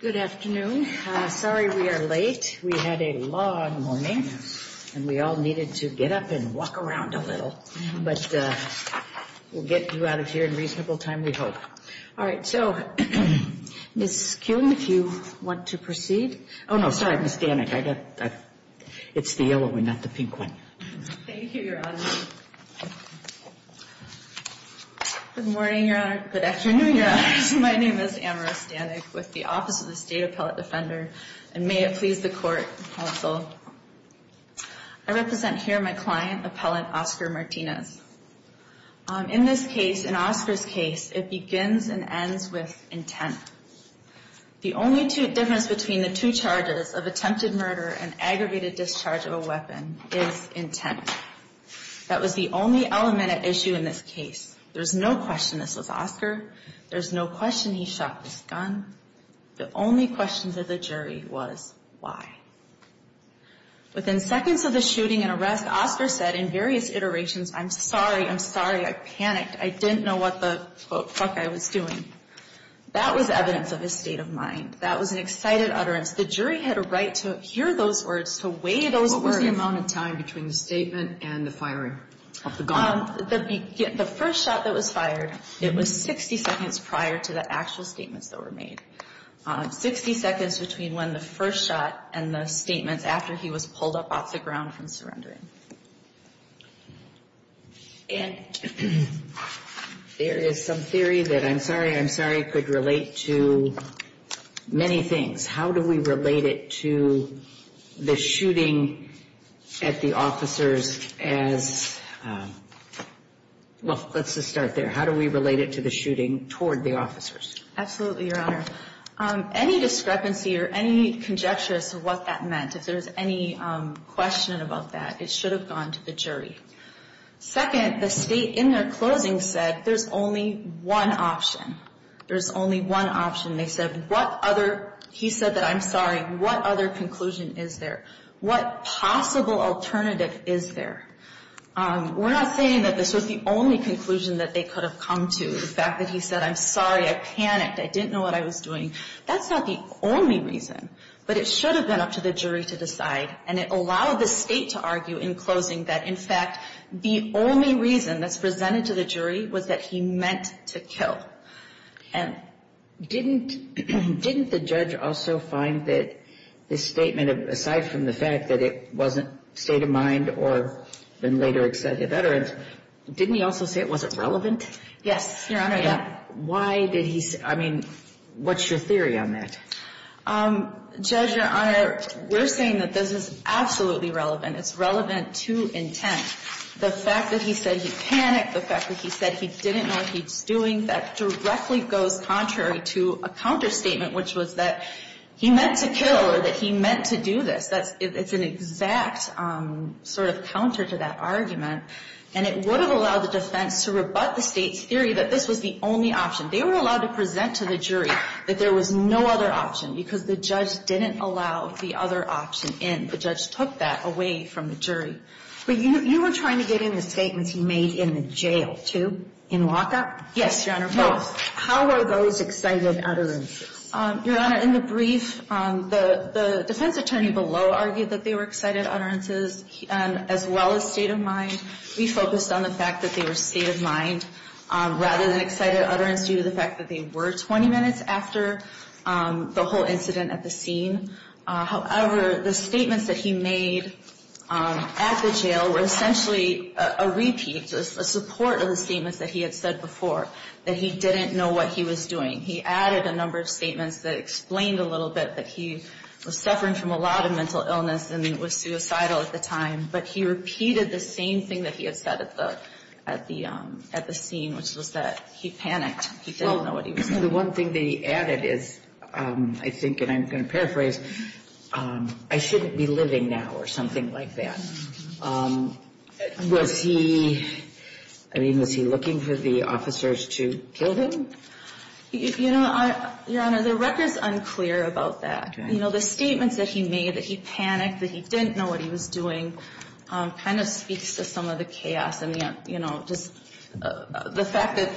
Good afternoon. Sorry we are late. We had a long morning and we all needed to get up and walk around a little. But we'll get you out of here in reasonable time, we hope. All right. So, Ms. Kuhn, if you want to proceed. Oh no, sorry, Ms. Stanek. It's the yellow one, not the pink one. Amara Stanek Thank you, Your Honor. Good morning, Your Honor. Good afternoon, Your Honor. My name is Amara Stanek with the Office of the State Appellate Defender. And may it please the Court, Counsel. I represent here my client, Appellant Oscar Martinez. In this case, in Oscar's case, it begins and ends with intent. The only difference between the two charges of attempted murder and aggregated discharge of a weapon is intent. That was the only element at issue in this case. There's no question this was Oscar. There's no question he shot this gun. The only question to the jury was why. Within seconds of the shooting and arrest, Oscar said in various iterations, I'm sorry, I'm sorry, I panicked. I didn't know what the fuck I was doing. That was evidence of his state of mind. That was an excited utterance. The jury had a right to hear those words, to weigh those words. What was the amount of time between the statement and the firing of the gun? The first shot that was fired, it was 60 seconds prior to the actual statements that were made. 60 seconds between when the first shot and the statements after he was pulled up off the ground from surrendering. And there is some theory that I'm sorry, I'm sorry could relate to many things. How do we relate it to the shooting at the officers as, well, let's just start there. How do we relate it to the shooting toward the officers? Absolutely, Your Honor. Any discrepancy or any conjecture as to what that meant, if there's any question about that, it should have gone to the jury. Second, the State in their closing said there's only one option. There's only one option. They said what other, he said that I'm sorry, what other conclusion is there? What possible alternative is there? We're not saying that this was the only conclusion that they could have come to. The fact that he said I'm sorry, I panicked, I didn't know what I was doing. That's not the only reason. But it should have been up to the jury to decide. And it allowed the State to argue in closing that, in fact, the only reason that's presented to the jury was that he meant to kill. And didn't the judge also find that this statement, aside from the fact that it wasn't state of mind or later accepted veterans, didn't he also say it wasn't relevant? Yes, Your Honor. Why did he, I mean, what's your theory on that? Judge, Your Honor, we're saying that this is absolutely relevant. It's relevant to intent. The fact that he said he panicked, the fact that he said he didn't know what he was doing, that directly goes contrary to a counterstatement, which was that he meant to kill or that he meant to do this. It's an exact sort of counter to that argument. And it would have allowed the defense to rebut the State's theory that this was the only option. They were allowed to present to the jury that there was no other option because the judge didn't allow the other option in. The judge took that away from the jury. But you were trying to get in the statements he made in the jail, too, in lockup? Yes, Your Honor. How were those excited utterances? Your Honor, in the brief, the defense attorney below argued that they were excited utterances as well as state of mind. We focused on the fact that they were state of mind rather than excited utterance due to the fact that they were 20 minutes after the whole incident at the scene. However, the statements that he made at the jail were essentially a repeat, just a support of the statements that he had said before, that he didn't know what he was doing. He added a number of statements that explained a little bit that he was suffering from a lot of mental illness and was suicidal at the time. But he repeated the same thing that he had said at the scene, which was that he panicked. He didn't know what he was doing. The one thing that he added is, I think, and I'm going to paraphrase, I shouldn't be living now or something like that. Was he, I mean, was he looking for the officers to kill him? You know, Your Honor, the record is unclear about that. You know, the statements that he made, that he panicked, that he didn't know what he was doing, kind of speaks to some of the chaos. And, you know, just the fact that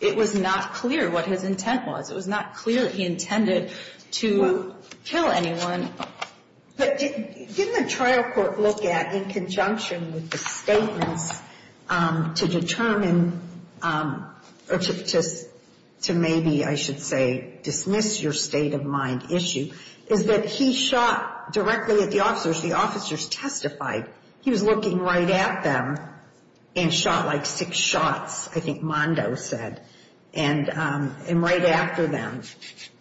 it was not clear what his intent was. It was not clear that he intended to kill anyone. But didn't the trial court look at, in conjunction with the statements, to determine or to maybe, I should say, dismiss your state of mind issue, is that he shot directly at the officers. The officers testified. He was looking right at them and shot like six shots, I think Mondo said, and right after them,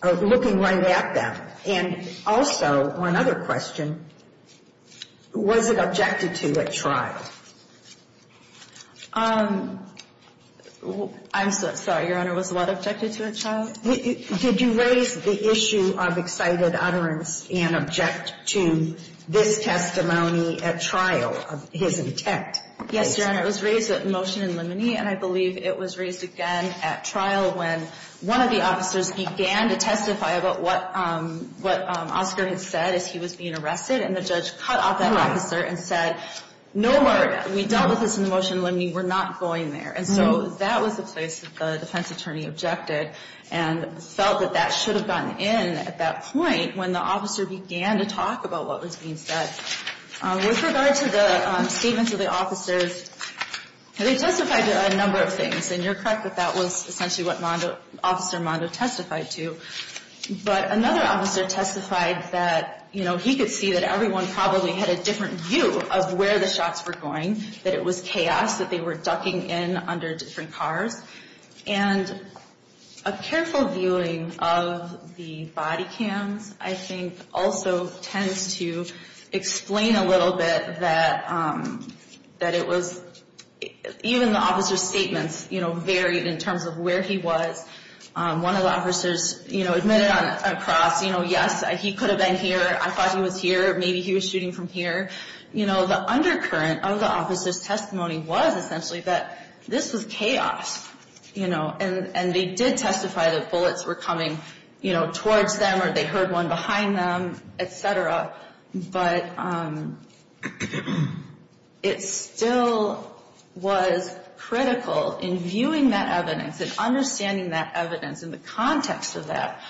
looking right at them. And also, one other question, was it objected to at trial? I'm sorry, Your Honor, was what objected to at trial? Did you raise the issue of excited utterance and object to this testimony at trial of his intent? Yes, Your Honor. It was raised at motion in limine, and I believe it was raised again at trial when one of the officers began to testify about what Oscar had said as he was being arrested. And the judge cut off that officer and said, no word. We dealt with this in the motion in limine. We're not going there. And so that was the place that the defense attorney objected and felt that that should have gotten in at that point when the officer began to talk about what was being said. With regard to the statements of the officers, they testified to a number of things, and you're correct that that was essentially what Officer Mondo testified to. But another officer testified that, you know, he could see that everyone probably had a different view of where the shots were going, that it was chaos, that they were ducking in under different cars. And a careful viewing of the body cams, I think, also tends to explain a little bit that it was, even the officer's statements, you know, varied in terms of where he was. One of the officers, you know, admitted on a cross, you know, yes, he could have been here. I thought he was here. Maybe he was shooting from here. You know, the undercurrent of the officer's testimony was essentially that this was chaos, you know, and they did testify that bullets were coming, you know, towards them or they heard one behind them, et cetera. But it still was critical in viewing that evidence and understanding that evidence and the context of that,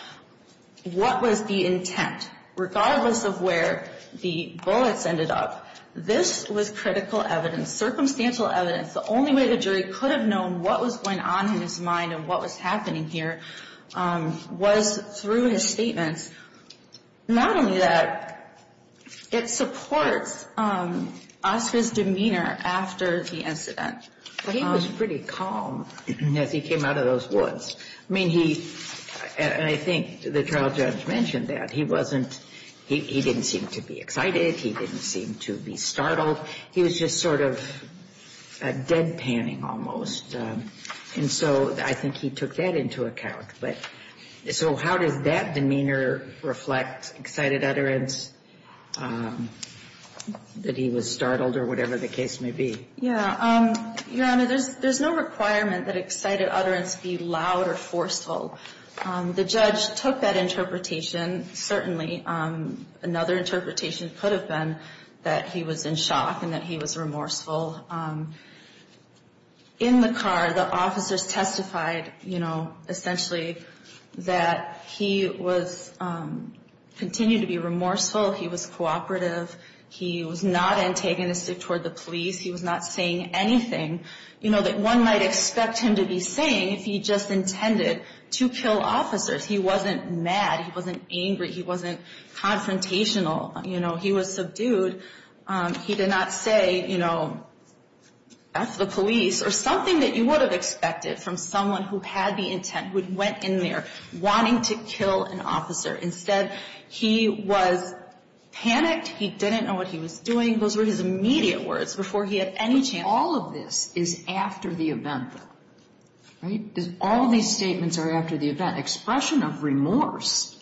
what was the intent, regardless of where the bullets ended up. This was critical evidence, circumstantial evidence. The only way the jury could have known what was going on in his mind and what was happening here was through his statements. Not only that, it supports Oscar's demeanor after the incident. He was pretty calm as he came out of those woods. I mean, he, and I think the trial judge mentioned that. He wasn't, he didn't seem to be excited. He didn't seem to be startled. He was just sort of deadpanning almost. And so I think he took that into account. But so how does that demeanor reflect excited utterance, that he was startled or whatever the case may be? Yeah. Your Honor, there's no requirement that excited utterance be loud or forceful. The judge took that interpretation. Certainly another interpretation could have been that he was in shock and that he was remorseful. In the car, the officers testified, you know, essentially that he was, continued to be remorseful. He was cooperative. He was not antagonistic toward the police. He was not saying anything, you know, that one might expect him to be saying if he just intended to kill officers. He wasn't mad. He wasn't angry. He wasn't confrontational. You know, he was subdued. He did not say, you know, that's the police or something that you would have expected from someone who had the intent, who went in there wanting to kill an officer. Instead, he was panicked. He didn't know what he was doing. I think those were his immediate words before he had any chance. All of this is after the event, right? All these statements are after the event. Expression of remorse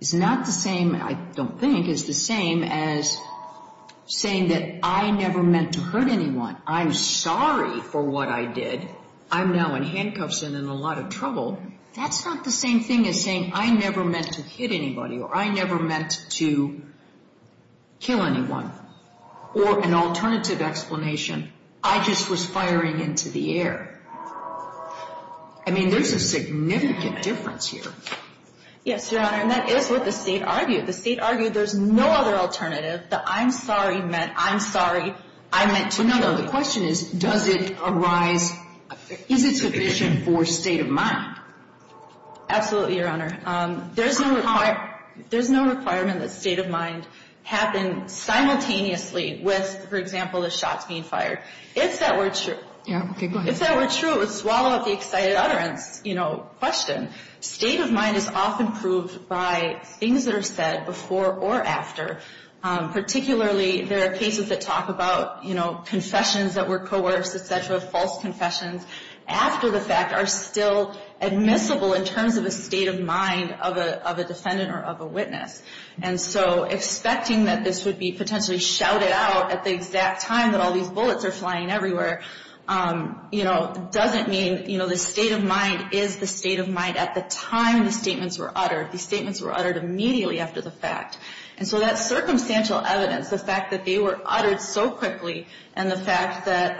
is not the same, I don't think, is the same as saying that I never meant to hurt anyone. I'm sorry for what I did. I'm now in handcuffs and in a lot of trouble. That's not the same thing as saying I never meant to hit anybody or I never meant to kill anyone. Or an alternative explanation, I just was firing into the air. I mean, there's a significant difference here. Yes, Your Honor, and that is what the state argued. The state argued there's no other alternative. The I'm sorry meant I'm sorry I meant to do that. The question is, does it arise, is it sufficient for state of mind? Absolutely, Your Honor. There's no requirement that state of mind happen simultaneously with, for example, the shots being fired. If that were true, it would swallow up the excited utterance question. State of mind is often proved by things that are said before or after. Particularly, there are cases that talk about, you know, confessions that were coerced, et cetera, false confessions after the fact are still admissible in terms of a state of mind of a defendant or of a witness. And so expecting that this would be potentially shouted out at the exact time that all these bullets are flying everywhere, you know, doesn't mean, you know, the state of mind is the state of mind at the time the statements were uttered. The statements were uttered immediately after the fact. And so that circumstantial evidence, the fact that they were uttered so quickly and the fact that,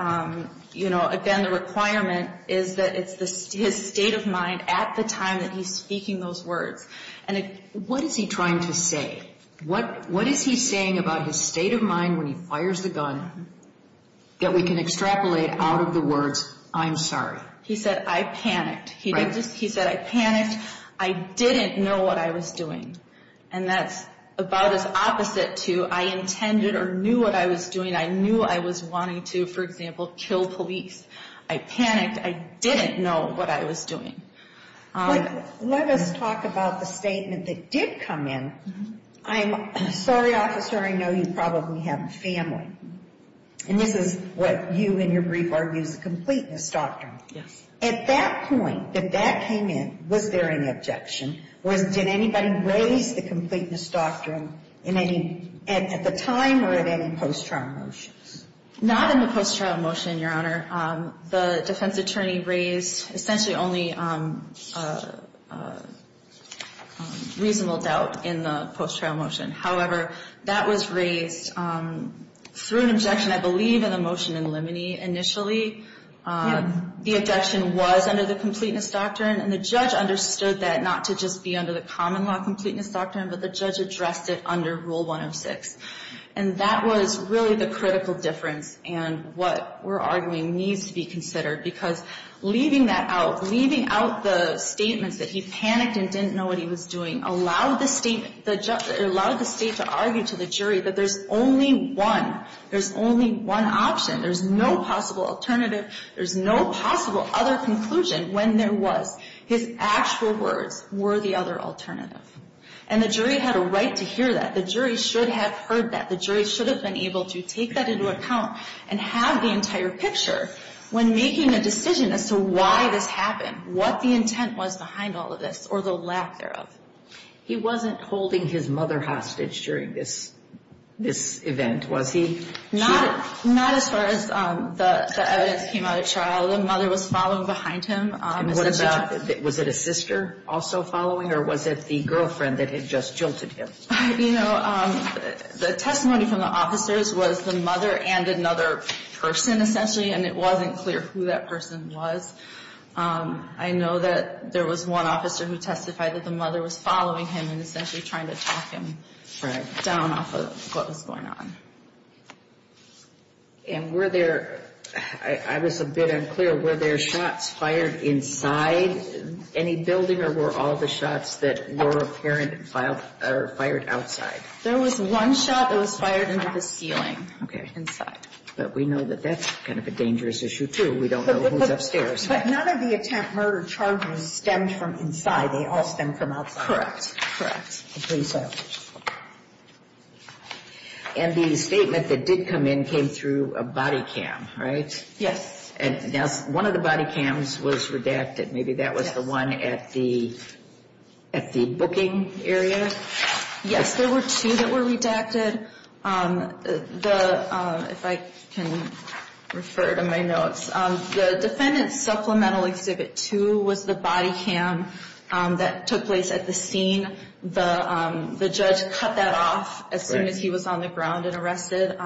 you know, again, the requirement is that it's his state of mind at the time that he's speaking those words. And what is he trying to say? What is he saying about his state of mind when he fires the gun that we can extrapolate out of the words, I'm sorry? He said, I panicked. He said, I panicked. I didn't know what I was doing. And that's about as opposite to I intended or knew what I was doing. I knew I was wanting to, for example, kill police. I panicked. I didn't know what I was doing. Let us talk about the statement that did come in. I'm sorry, Officer, I know you probably have a family. And this is what you in your brief argue is a complete misdoctrine. Yes. At that point that that came in, was there an objection? Did anybody raise the complete misdoctrine at the time or at any post-trial motions? Not in the post-trial motion, Your Honor. The defense attorney raised essentially only a reasonable doubt in the post-trial motion. However, that was raised through an objection, I believe, in the motion in limine initially. The objection was under the complete misdoctrine. And the judge understood that not to just be under the common law complete misdoctrine, but the judge addressed it under Rule 106. And that was really the critical difference and what we're arguing needs to be considered. Because leaving that out, leaving out the statements that he panicked and didn't know what he was doing, allowed the state to argue to the jury that there's only one. There's only one option. There's no possible alternative. There's no possible other conclusion when there was. His actual words were the other alternative. And the jury had a right to hear that. The jury should have heard that. The jury should have been able to take that into account and have the entire picture when making a decision as to why this happened, what the intent was behind all of this, or the lack thereof. He wasn't holding his mother hostage during this event, was he? Not as far as the evidence came out at trial. The mother was following behind him. And what about, was it a sister also following, or was it the girlfriend that had just jilted him? You know, the testimony from the officers was the mother and another person, essentially, and it wasn't clear who that person was. I know that there was one officer who testified that the mother was following him and essentially trying to talk him down off of what was going on. And were there, I was a bit unclear, were there shots fired inside any building or were all the shots that were apparent fired outside? There was one shot that was fired into the ceiling inside. But we know that that's kind of a dangerous issue, too. We don't know who's upstairs. But none of the attempt murder charges stemmed from inside. They all stemmed from outside. Correct. Correct. I believe so. And the statement that did come in came through a body cam, right? Yes. One of the body cams was redacted. Maybe that was the one at the booking area? Yes, there were two that were redacted. If I can refer to my notes, the defendant's supplemental exhibit two was the body cam that took place at the scene. The judge cut that off as soon as he was on the ground and arrested.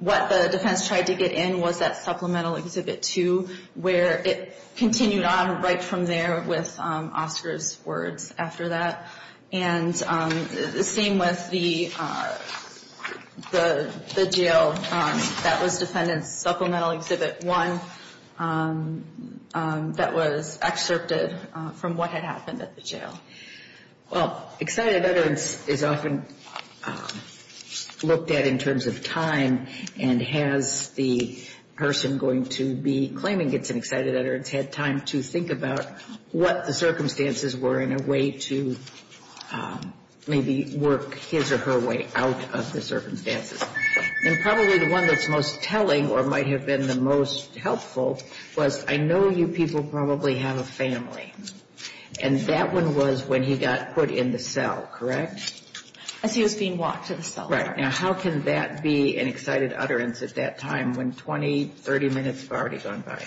What the defense tried to get in was that supplemental exhibit two, where it continued on right from there with Oscar's words after that. And the same with the jail. That was defendant's supplemental exhibit one that was excerpted from what had happened at the jail. Well, excited utterance is often looked at in terms of time and has the person going to be claiming it's an excited utterance had time to think about what the circumstances were in a way to maybe work his or her way out of the circumstances. And probably the one that's most telling or might have been the most helpful was I know you people probably have a family. And that one was when he got put in the cell, correct? As he was being walked to the cell. Right. Now, how can that be an excited utterance at that time when 20, 30 minutes have already gone by?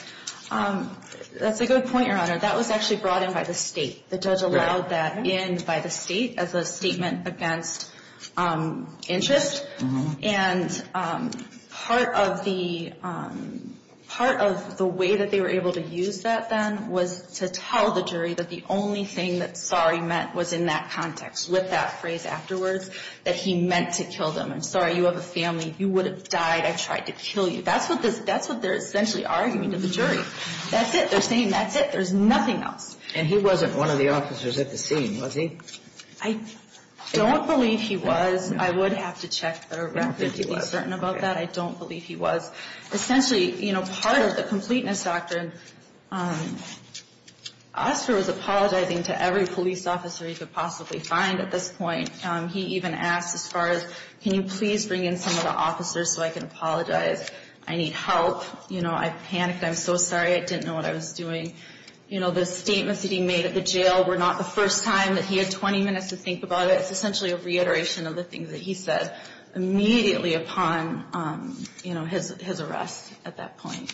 That's a good point, Your Honor. That was actually brought in by the state. The judge allowed that in by the state as a statement against interest. And part of the way that they were able to use that then was to tell the jury that the only thing that sorry meant was in that context with that phrase afterwards that he meant to kill them. I'm sorry, you have a family. You would have died. I tried to kill you. That's what they're essentially arguing to the jury. That's it. They're saying that's it. There's nothing else. And he wasn't one of the officers at the scene, was he? I don't believe he was. I would have to check the record to be certain about that. I don't believe he was. Essentially, you know, part of the completeness doctrine, Oscar was apologizing to every police officer he could possibly find at this point. He even asked as far as can you please bring in some of the officers so I can apologize. I need help. You know, I panicked. I'm so sorry. I didn't know what I was doing. You know, the statements that he made at the jail were not the first time that he had 20 minutes to think about it. It was essentially a reiteration of the things that he said immediately upon, you know, his arrest at that point.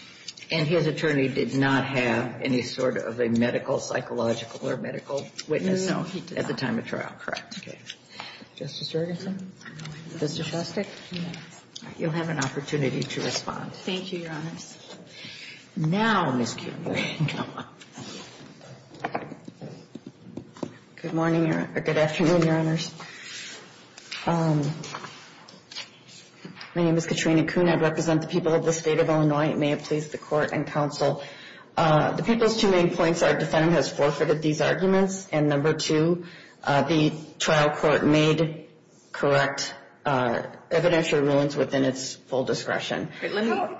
And his attorney did not have any sort of a medical, psychological or medical witness at the time of trial, correct? Okay. Justice Jurgensen? Mr. Shostak? Yes. You'll have an opportunity to respond. Thank you, Your Honors. Now, Ms. Kubler. Good morning or good afternoon, Your Honors. My name is Katrina Kuhn. I represent the people of the State of Illinois. May it please the Court and Counsel. The people's two main points are defendant has forfeited these arguments, and number two, the trial court made correct evidentiary rulings within its full discretion. How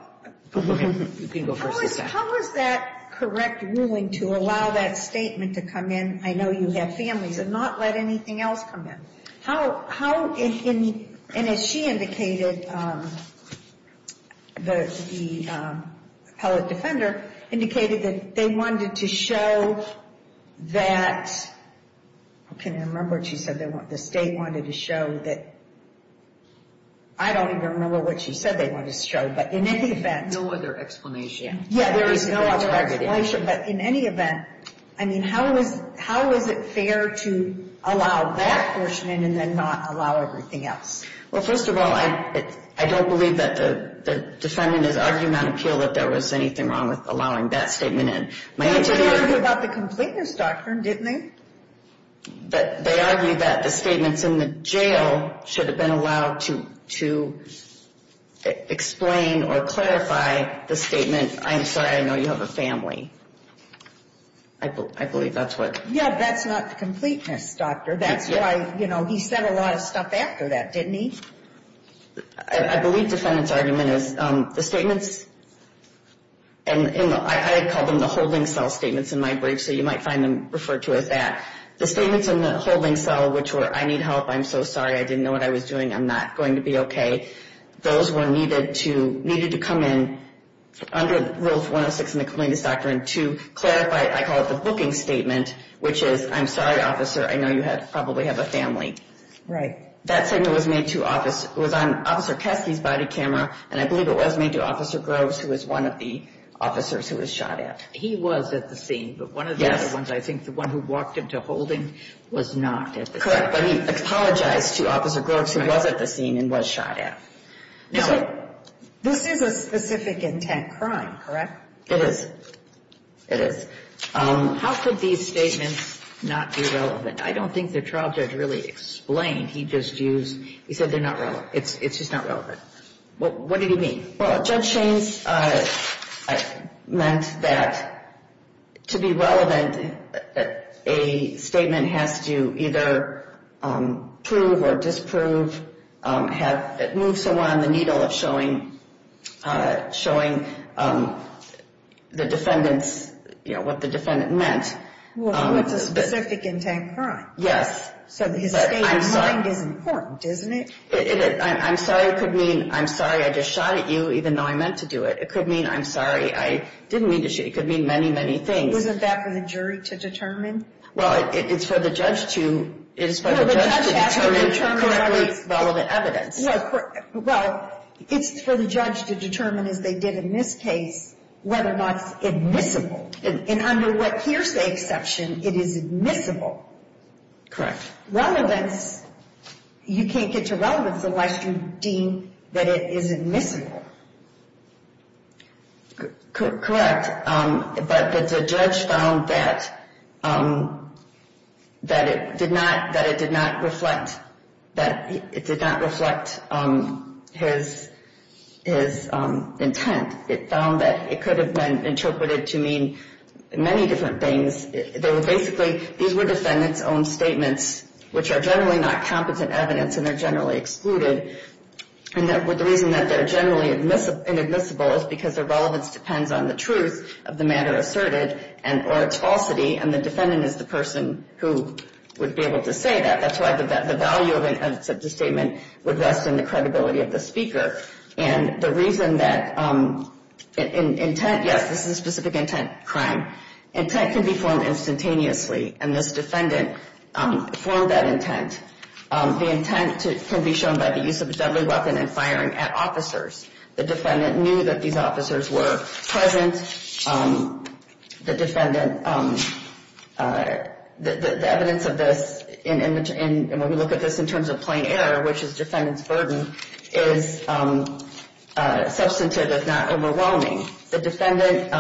is that correct ruling to allow that statement to come in, I know you have families, and not let anything else come in? How, and as she indicated, the appellate defender indicated that they wanted to show that, can I remember what she said, the State wanted to show that, I don't even remember what she said they wanted to show, but in any event. No other explanation. Yeah, there is no other explanation, but in any event, I mean, how is it fair to allow that portion in and then not allow everything else? Well, first of all, I don't believe that the defendant is arguing on appeal that there was anything wrong with allowing that statement in. But they argued about the completeness doctrine, didn't they? They argued that the statements in the jail should have been allowed to explain or clarify the statement, I'm sorry, I know you have a family. I believe that's what. Yeah, that's not completeness, Doctor. That's why, you know, he said a lot of stuff after that, didn't he? I believe defendant's argument is the statements, and I call them the holding cell statements in my brief, so you might find them referred to as that. The statements in the holding cell, which were, I need help, I'm so sorry, I didn't know what I was doing, I'm not going to be okay. Those were needed to come in under Rule 106 in the completeness doctrine to clarify, I call it the booking statement, which is, I'm sorry, officer, I know you probably have a family. Right. That statement was made to officer, it was on Officer Caskey's body camera, and I believe it was made to Officer Groves, who was one of the officers who was shot at. He was at the scene, but one of the other ones, I think, the one who walked into holding was not at the scene. Correct. But he apologized to Officer Groves, who was at the scene and was shot at. Now, this is a specific intent crime, correct? It is. It is. How could these statements not be relevant? I don't think the trial judge really explained. He just used, he said they're not relevant. It's just not relevant. What did he mean? Well, Judge Shaines meant that to be relevant, a statement has to either prove or disprove, have it move somewhere on the needle of showing the defendants, you know, what the defendant meant. Well, it's a specific intent crime. Yes. So his state of mind is important, isn't it? I'm sorry could mean I'm sorry I just shot at you even though I meant to do it. It could mean I'm sorry I didn't mean to shoot. It could mean many, many things. Wasn't that for the jury to determine? Well, it's for the judge to determine correctly relevant evidence. Well, it's for the judge to determine, as they did in this case, whether or not it's admissible. And under what hearsay exception, it is admissible. Correct. But relevance, you can't get to relevance unless you deem that it is admissible. Correct. But the judge found that it did not reflect his intent. It found that it could have been interpreted to mean many different things. Basically, these were defendants' own statements, which are generally not competent evidence and they're generally excluded. And the reason that they're generally inadmissible is because their relevance depends on the truth of the matter asserted or its falsity, and the defendant is the person who would be able to say that. That's why the value of the statement would rest in the credibility of the speaker. And the reason that intent, yes, this is a specific intent crime. Intent can be formed instantaneously, and this defendant formed that intent. The intent can be shown by the use of a deadly weapon and firing at officers. The defendant knew that these officers were present. The evidence of this, and when we look at this in terms of plain error, which is defendant's burden, is substantive, if not overwhelming. The defendant,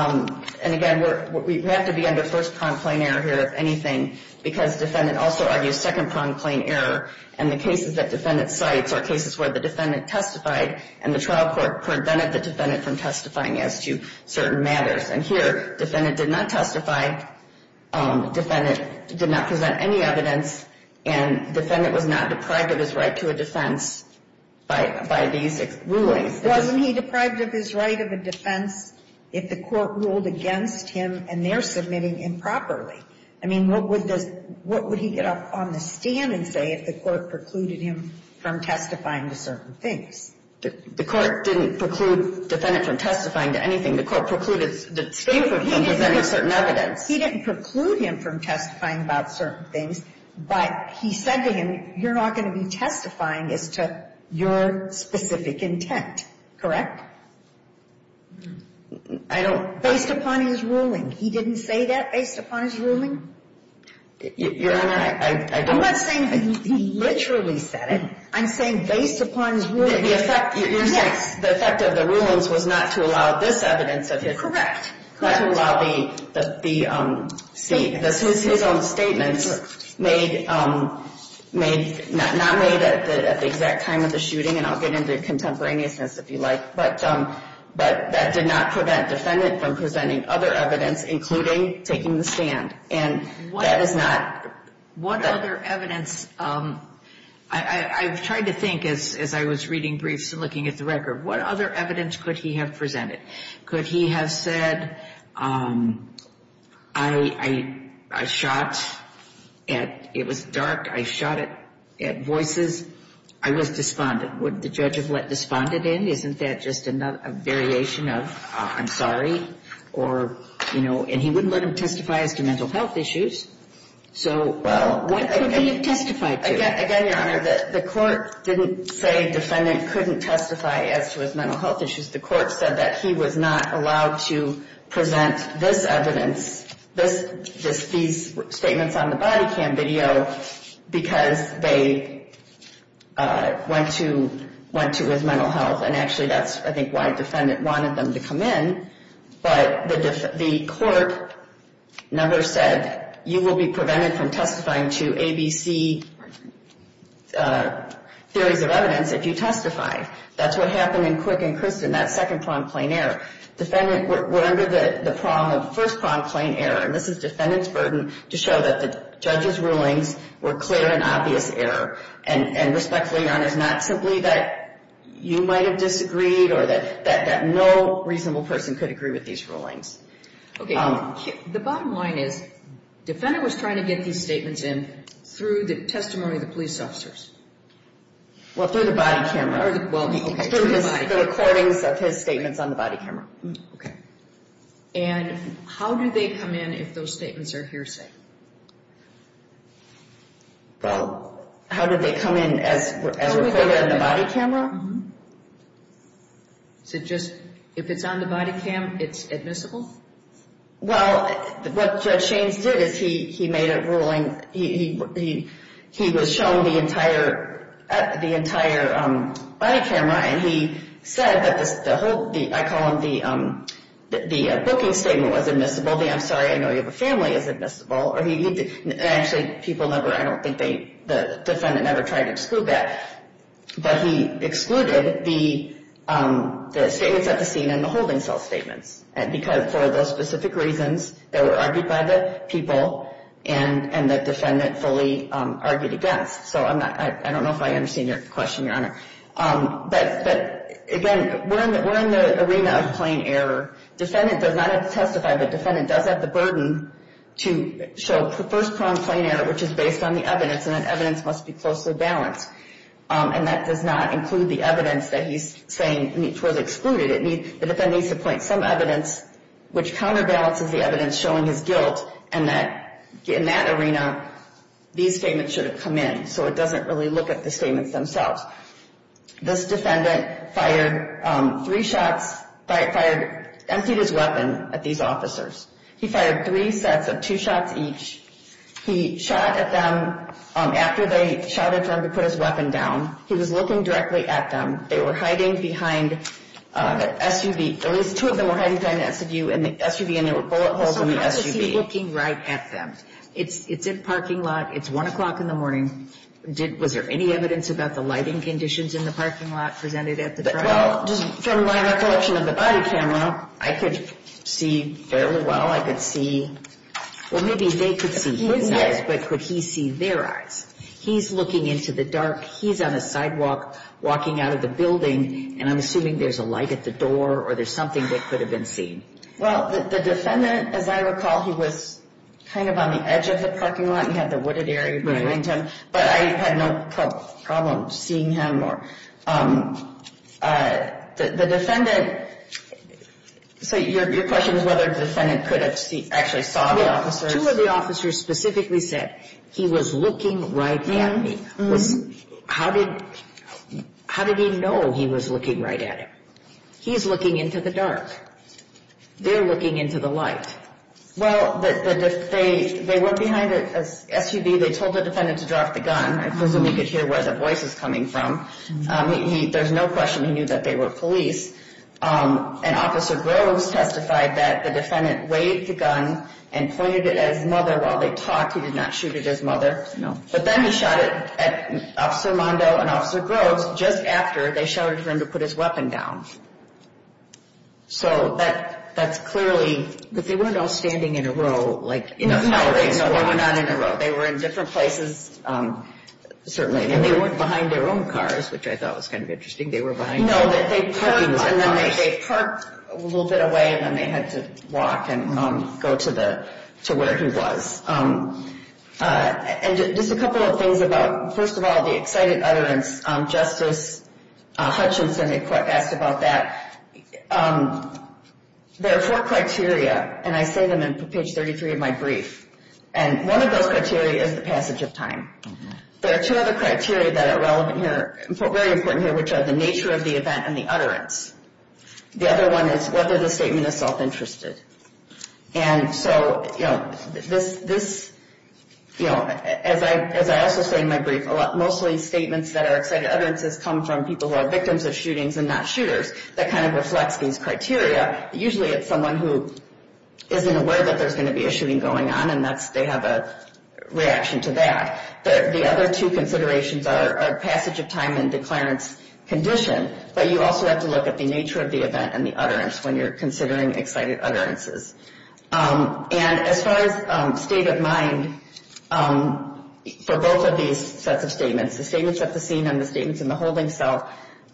and again, we have to be under first-pronged plain error here, if anything, because defendant also argues second-pronged plain error, and the cases that defendant cites are cases where the defendant testified and the trial court prevented the defendant from testifying as to certain matters. And here, defendant did not testify, defendant did not present any evidence, and defendant was not deprived of his right to a defense by these rulings. Wasn't he deprived of his right of a defense if the court ruled against him and they're submitting improperly? I mean, what would he get up on the stand and say if the court precluded him from testifying to certain things? The court didn't preclude defendant from testifying to anything. The court precluded the speaker from presenting certain evidence. He didn't preclude him from testifying about certain things, but he said to him, you're not going to be testifying as to your specific intent, correct? I don't. Based upon his ruling. He didn't say that based upon his ruling? Your Honor, I don't. I'm not saying he literally said it. I'm saying based upon his ruling. The effect of the rulings was not to allow this evidence of his. Correct. Not to allow his own statements made, not made at the exact time of the shooting, and I'll get into contemporaneousness if you like, but that did not prevent defendant from presenting other evidence, including taking the stand, and that is not. What other evidence? I've tried to think as I was reading briefs and looking at the record. What other evidence could he have presented? Could he have said, I shot at, it was dark. I shot at voices. I was despondent. Would the judge have let despondent in? Isn't that just a variation of I'm sorry? Or, you know, and he wouldn't let him testify as to mental health issues. So what could he have testified to? Again, Your Honor, the court didn't say defendant couldn't testify as to his mental health issues. The court said that he was not allowed to present this evidence, these statements on the body cam video, because they went to his mental health, and actually that's, I think, why defendant wanted them to come in, but the court never said you will be prevented from testifying to ABC theories of evidence if you testify. That's what happened in Quick and Kristen, that second pronged plain error. Defendant were under the prong of first pronged plain error, and this is defendant's burden to show that the judge's rulings were clear and obvious error. And respectfully, Your Honor, it's not simply that you might have disagreed or that no reasonable person could agree with these rulings. Okay. The bottom line is defendant was trying to get these statements in through the testimony of the police officers. Well, through the body camera. Okay, through the body camera. Through the recordings of his statements on the body camera. Okay. And how do they come in if those statements are hearsay? Well, how do they come in as recorded in the body camera? So just if it's on the body cam, it's admissible? Well, what Judge Shaines did is he made a ruling, he was shown the entire body camera, and he said that the whole, I call them the booking statement was admissible, the I'm sorry I know you have a family is admissible, and actually people never, I don't think they, the defendant never tried to exclude that, but he excluded the statements at the scene and the holding cell statements for those specific reasons that were argued by the people and the defendant fully argued against. So I don't know if I understand your question, Your Honor. But, again, we're in the arena of plain error. Defendant does not have to testify, but defendant does have the burden to show first-prong plain error, which is based on the evidence, and that evidence must be closely balanced. And that does not include the evidence that he's saying was excluded. The defendant needs to point some evidence, which counterbalances the evidence showing his guilt, and that in that arena, these statements should have come in, so it doesn't really look at the statements themselves. This defendant fired three shots, fired, emptied his weapon at these officers. He fired three sets of two shots each. He shot at them after they shouted for him to put his weapon down. He was looking directly at them. They were hiding behind an SUV. At least two of them were hiding behind the SUV, and there were bullet holes in the SUV. So how does he see looking right at them? It's in a parking lot. It's 1 o'clock in the morning. Was there any evidence about the lighting conditions in the parking lot presented at the trial? Well, just from my recollection of the body camera, I could see fairly well. I could see. Well, maybe they could see his eyes, but could he see their eyes? He's looking into the dark. He's on a sidewalk walking out of the building, and I'm assuming there's a light at the door or there's something that could have been seen. Well, the defendant, as I recall, he was kind of on the edge of the parking lot. He had the wooded area behind him, but I had no problem seeing him. The defendant, so your question is whether the defendant could have actually saw the officers. Two of the officers specifically said, he was looking right at me. How did he know he was looking right at him? He's looking into the dark. They're looking into the light. Well, they were behind an SUV. They told the defendant to drop the gun. I presume you could hear where the voice is coming from. There's no question he knew that they were police. And Officer Groves testified that the defendant weighed the gun and pointed it at his mother while they talked. He did not shoot it at his mother. But then he shot it at Officer Mondo and Officer Groves just after they shouted for him to put his weapon down. So that's clearly. But they weren't all standing in a row. No, they were not in a row. They were in different places, certainly. And they weren't behind their own cars, which I thought was kind of interesting. I didn't think they were behind cars. No, they parked a little bit away, and then they had to walk and go to where he was. And just a couple of things about, first of all, the excited utterance. Justice Hutchinson asked about that. There are four criteria, and I say them in page 33 of my brief. And one of those criteria is the passage of time. There are two other criteria that are relevant here, very important here, which are the nature of the event and the utterance. The other one is whether the statement is self-interested. And so this, as I also say in my brief, mostly statements that are excited utterances come from people who are victims of shootings and not shooters. That kind of reflects these criteria. Usually it's someone who isn't aware that there's going to be a shooting going on, and they have a reaction to that. The other two considerations are passage of time and declarance condition, but you also have to look at the nature of the event and the utterance when you're considering excited utterances. And as far as state of mind for both of these sets of statements, the statements at the scene and the statements in the holding cell,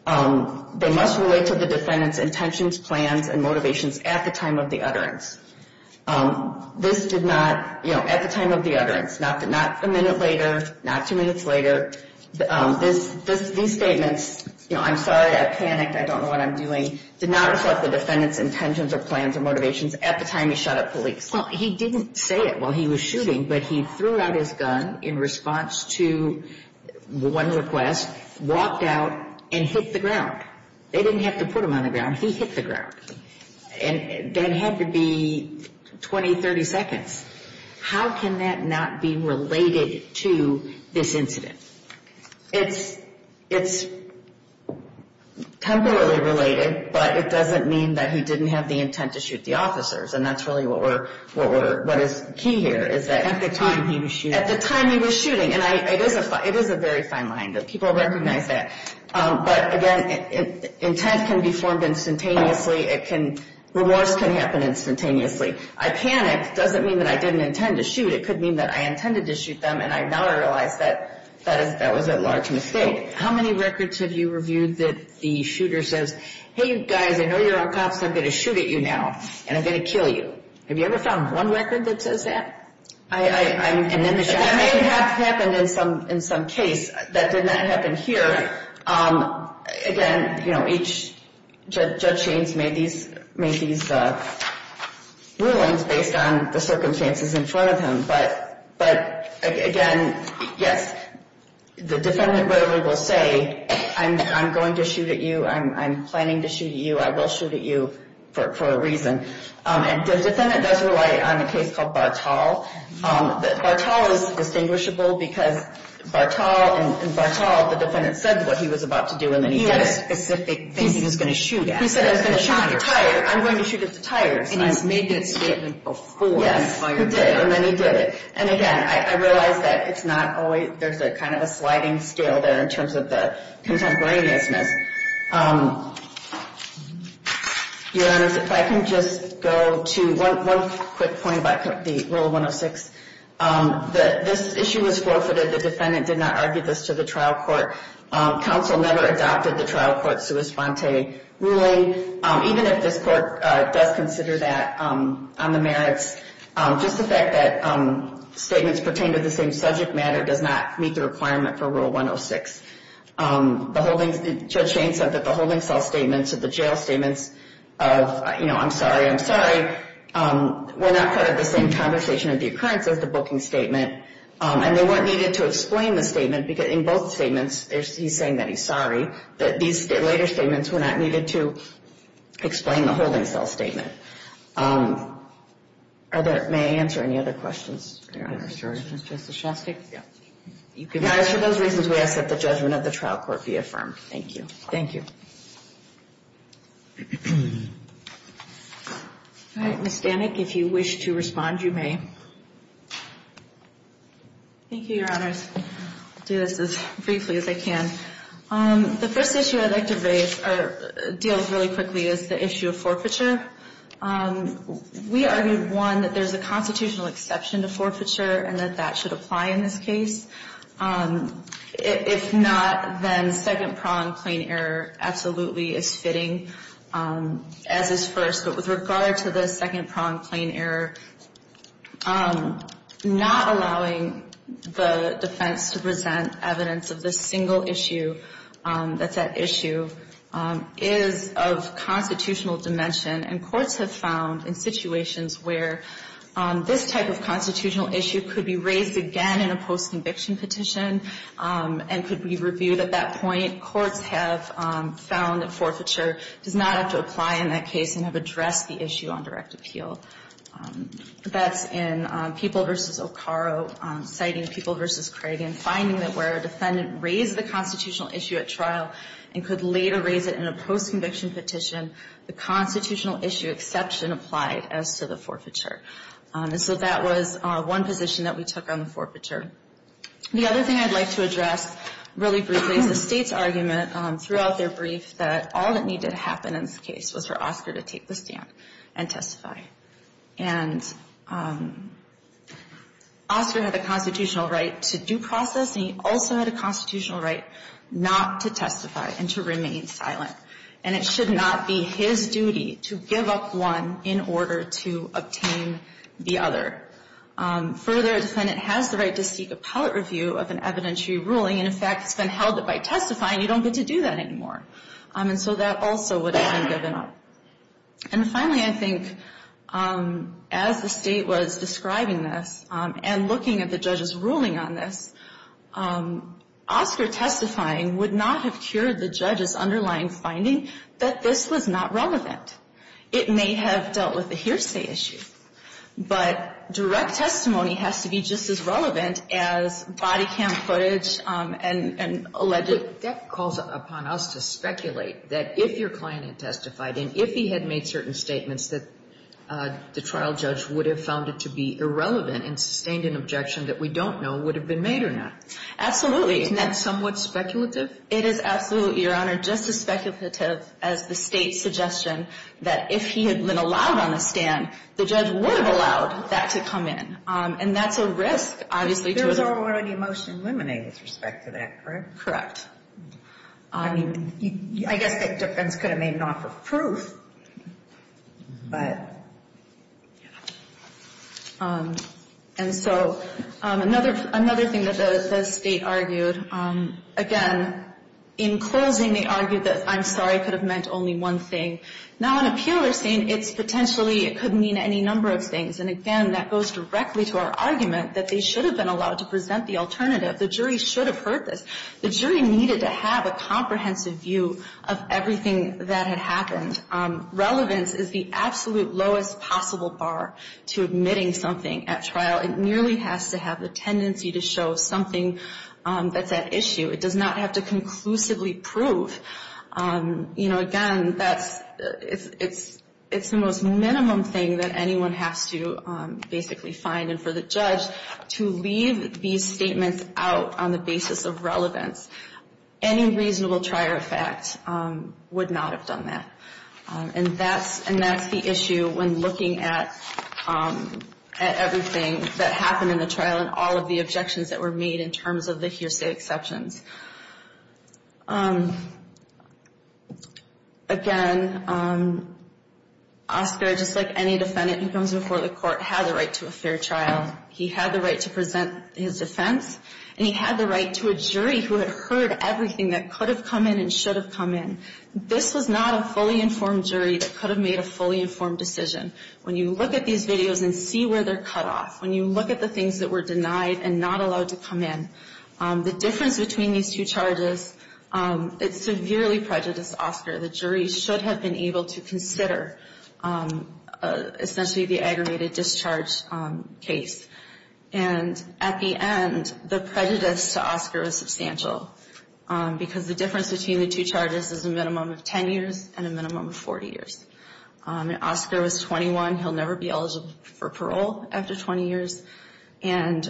they must relate to the defendant's intentions, plans, and motivations at the time of the utterance. This did not, you know, at the time of the utterance. Not a minute later, not two minutes later. These statements, you know, I'm sorry, I panicked, I don't know what I'm doing, did not reflect the defendant's intentions or plans or motivations at the time he shot at police. Well, he didn't say it while he was shooting, but he threw out his gun in response to one request, walked out, and hit the ground. They didn't have to put him on the ground. He hit the ground. And that had to be 20, 30 seconds. How can that not be related to this incident? It's temporarily related, but it doesn't mean that he didn't have the intent to shoot the officers, and that's really what is key here. At the time he was shooting. At the time he was shooting. And it is a very fine line. People recognize that. But, again, intent can be formed instantaneously. It can, remorse can happen instantaneously. I panicked doesn't mean that I didn't intend to shoot. It could mean that I intended to shoot them, and I now realize that that was a large mistake. How many records have you reviewed that the shooter says, hey, you guys, I know you're on cops, I'm going to shoot at you now, and I'm going to kill you? Have you ever found one record that says that? That may have happened in some case. That did not happen here. Again, each judge made these rulings based on the circumstances in front of him. But, again, yes, the defendant will say, I'm going to shoot at you, I'm planning to shoot at you, I will shoot at you for a reason. And the defendant does rely on a case called Bartall. Bartall is distinguishable because in Bartall the defendant said what he was about to do and then he had a specific thing he was going to shoot at. He said, I'm going to shoot at the tires. And he's made that statement before. Yes, he did, and then he did it. And, again, I realize that it's not always, there's kind of a sliding scale there in terms of the contemporaneousness. Your Honor, if I can just go to one quick point about the Rule 106. This issue was forfeited. The defendant did not argue this to the trial court. Counsel never adopted the trial court's sua sponte ruling. Even if this court does consider that on the merits, just the fact that statements pertain to the same subject matter does not meet the requirement for Rule 106. Judge Jayne said that the holding cell statements or the jail statements of, you know, I'm sorry, I'm sorry, were not part of the same conversation of the occurrence as the booking statement. And they weren't needed to explain the statement because in both statements, he's saying that he's sorry that these later statements were not needed to explain the holding cell statement. Are there, may I answer any other questions? Your Honor. Justice Shostak? Yes. For those reasons, we ask that the judgment of the trial court be affirmed. Thank you. Thank you. Ms. Stanek, if you wish to respond, you may. Thank you, Your Honors. I'll do this as briefly as I can. The first issue I'd like to raise or deal with really quickly is the issue of forfeiture. We argued, one, that there's a constitutional exception to forfeiture and that that should apply in this case. If not, then second-pronged plain error absolutely is fitting as is first. But with regard to the second-pronged plain error, not allowing the defense to present evidence of the single issue that's at issue is of constitutional dimension. And courts have found in situations where this type of constitutional issue could be raised again in a post-conviction petition and could be reviewed at that point, courts have found that forfeiture does not have to apply in that case and have addressed the issue on direct appeal. That's in People v. O'Carro citing People v. Craig and finding that where a defendant raised the constitutional issue at trial and could later raise it in a post-conviction petition, the constitutional issue exception applied as to the forfeiture. And so that was one position that we took on the forfeiture. The other thing I'd like to address really briefly is the State's argument throughout their brief that all that needed to happen in this case was for Oscar to take the stand and testify. And Oscar had a constitutional right to due process, and he also had a constitutional right not to testify and to remain silent. And it should not be his duty to give up one in order to obtain the other. Further, a defendant has the right to seek appellate review of an evidentiary ruling. And, in fact, it's been held that by testifying, you don't get to do that anymore. And so that also would have been given up. And finally, I think as the State was describing this and looking at the judge's ruling on this, Oscar testifying would not have cured the judge's underlying finding that this was not relevant. It may have dealt with a hearsay issue, but direct testimony has to be just as relevant as body-cam footage and alleged... if he had made certain statements that the trial judge would have found it to be irrelevant and sustained an objection that we don't know would have been made or not. Absolutely. Isn't that somewhat speculative? It is absolutely, Your Honor, just as speculative as the State's suggestion that if he had been allowed on the stand, the judge would have allowed that to come in. And that's a risk, obviously, to... There was already a motion eliminated with respect to that, correct? Correct. I mean, I guess that difference could have made an offer of proof, but... And so another thing that the State argued, again, in closing, they argued that I'm sorry could have meant only one thing. Now, in a peer-reviewed state, it's potentially, it could mean any number of things. And again, that goes directly to our argument that they should have been allowed to present the alternative. The jury should have heard this. The jury needed to have a comprehensive view of everything that had happened. Relevance is the absolute lowest possible bar to admitting something at trial. It nearly has to have the tendency to show something that's at issue. It does not have to conclusively prove. You know, again, it's the most minimum thing that anyone has to basically find. And for the judge to leave these statements out on the basis of relevance, any reasonable trier of fact would not have done that. And that's the issue when looking at everything that happened in the trial and all of the objections that were made in terms of the hearsay exceptions. Again, Oscar, just like any defendant who comes before the court, had the right to a fair trial. He had the right to present his defense. And he had the right to a jury who had heard everything that could have come in and should have come in. This was not a fully informed jury that could have made a fully informed decision. When you look at these videos and see where they're cut off, when you look at the things that were denied and not allowed to come in, the difference between these two charges, it severely prejudiced Oscar. The jury should have been able to consider essentially the aggravated discharge case. And at the end, the prejudice to Oscar was substantial because the difference between the two charges is a minimum of 10 years and a minimum of 40 years. And Oscar was 21. He'll never be eligible for parole after 20 years. And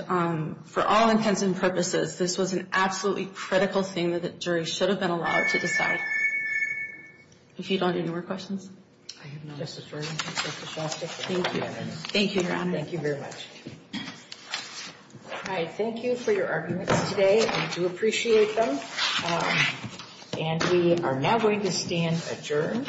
for all intents and purposes, this was an absolutely critical thing that the jury should have been allowed to decide. If you don't have any more questions. Thank you. Thank you, Your Honor. Thank you very much. All right, thank you for your arguments today. I do appreciate them. And we are now going to stand adjourned.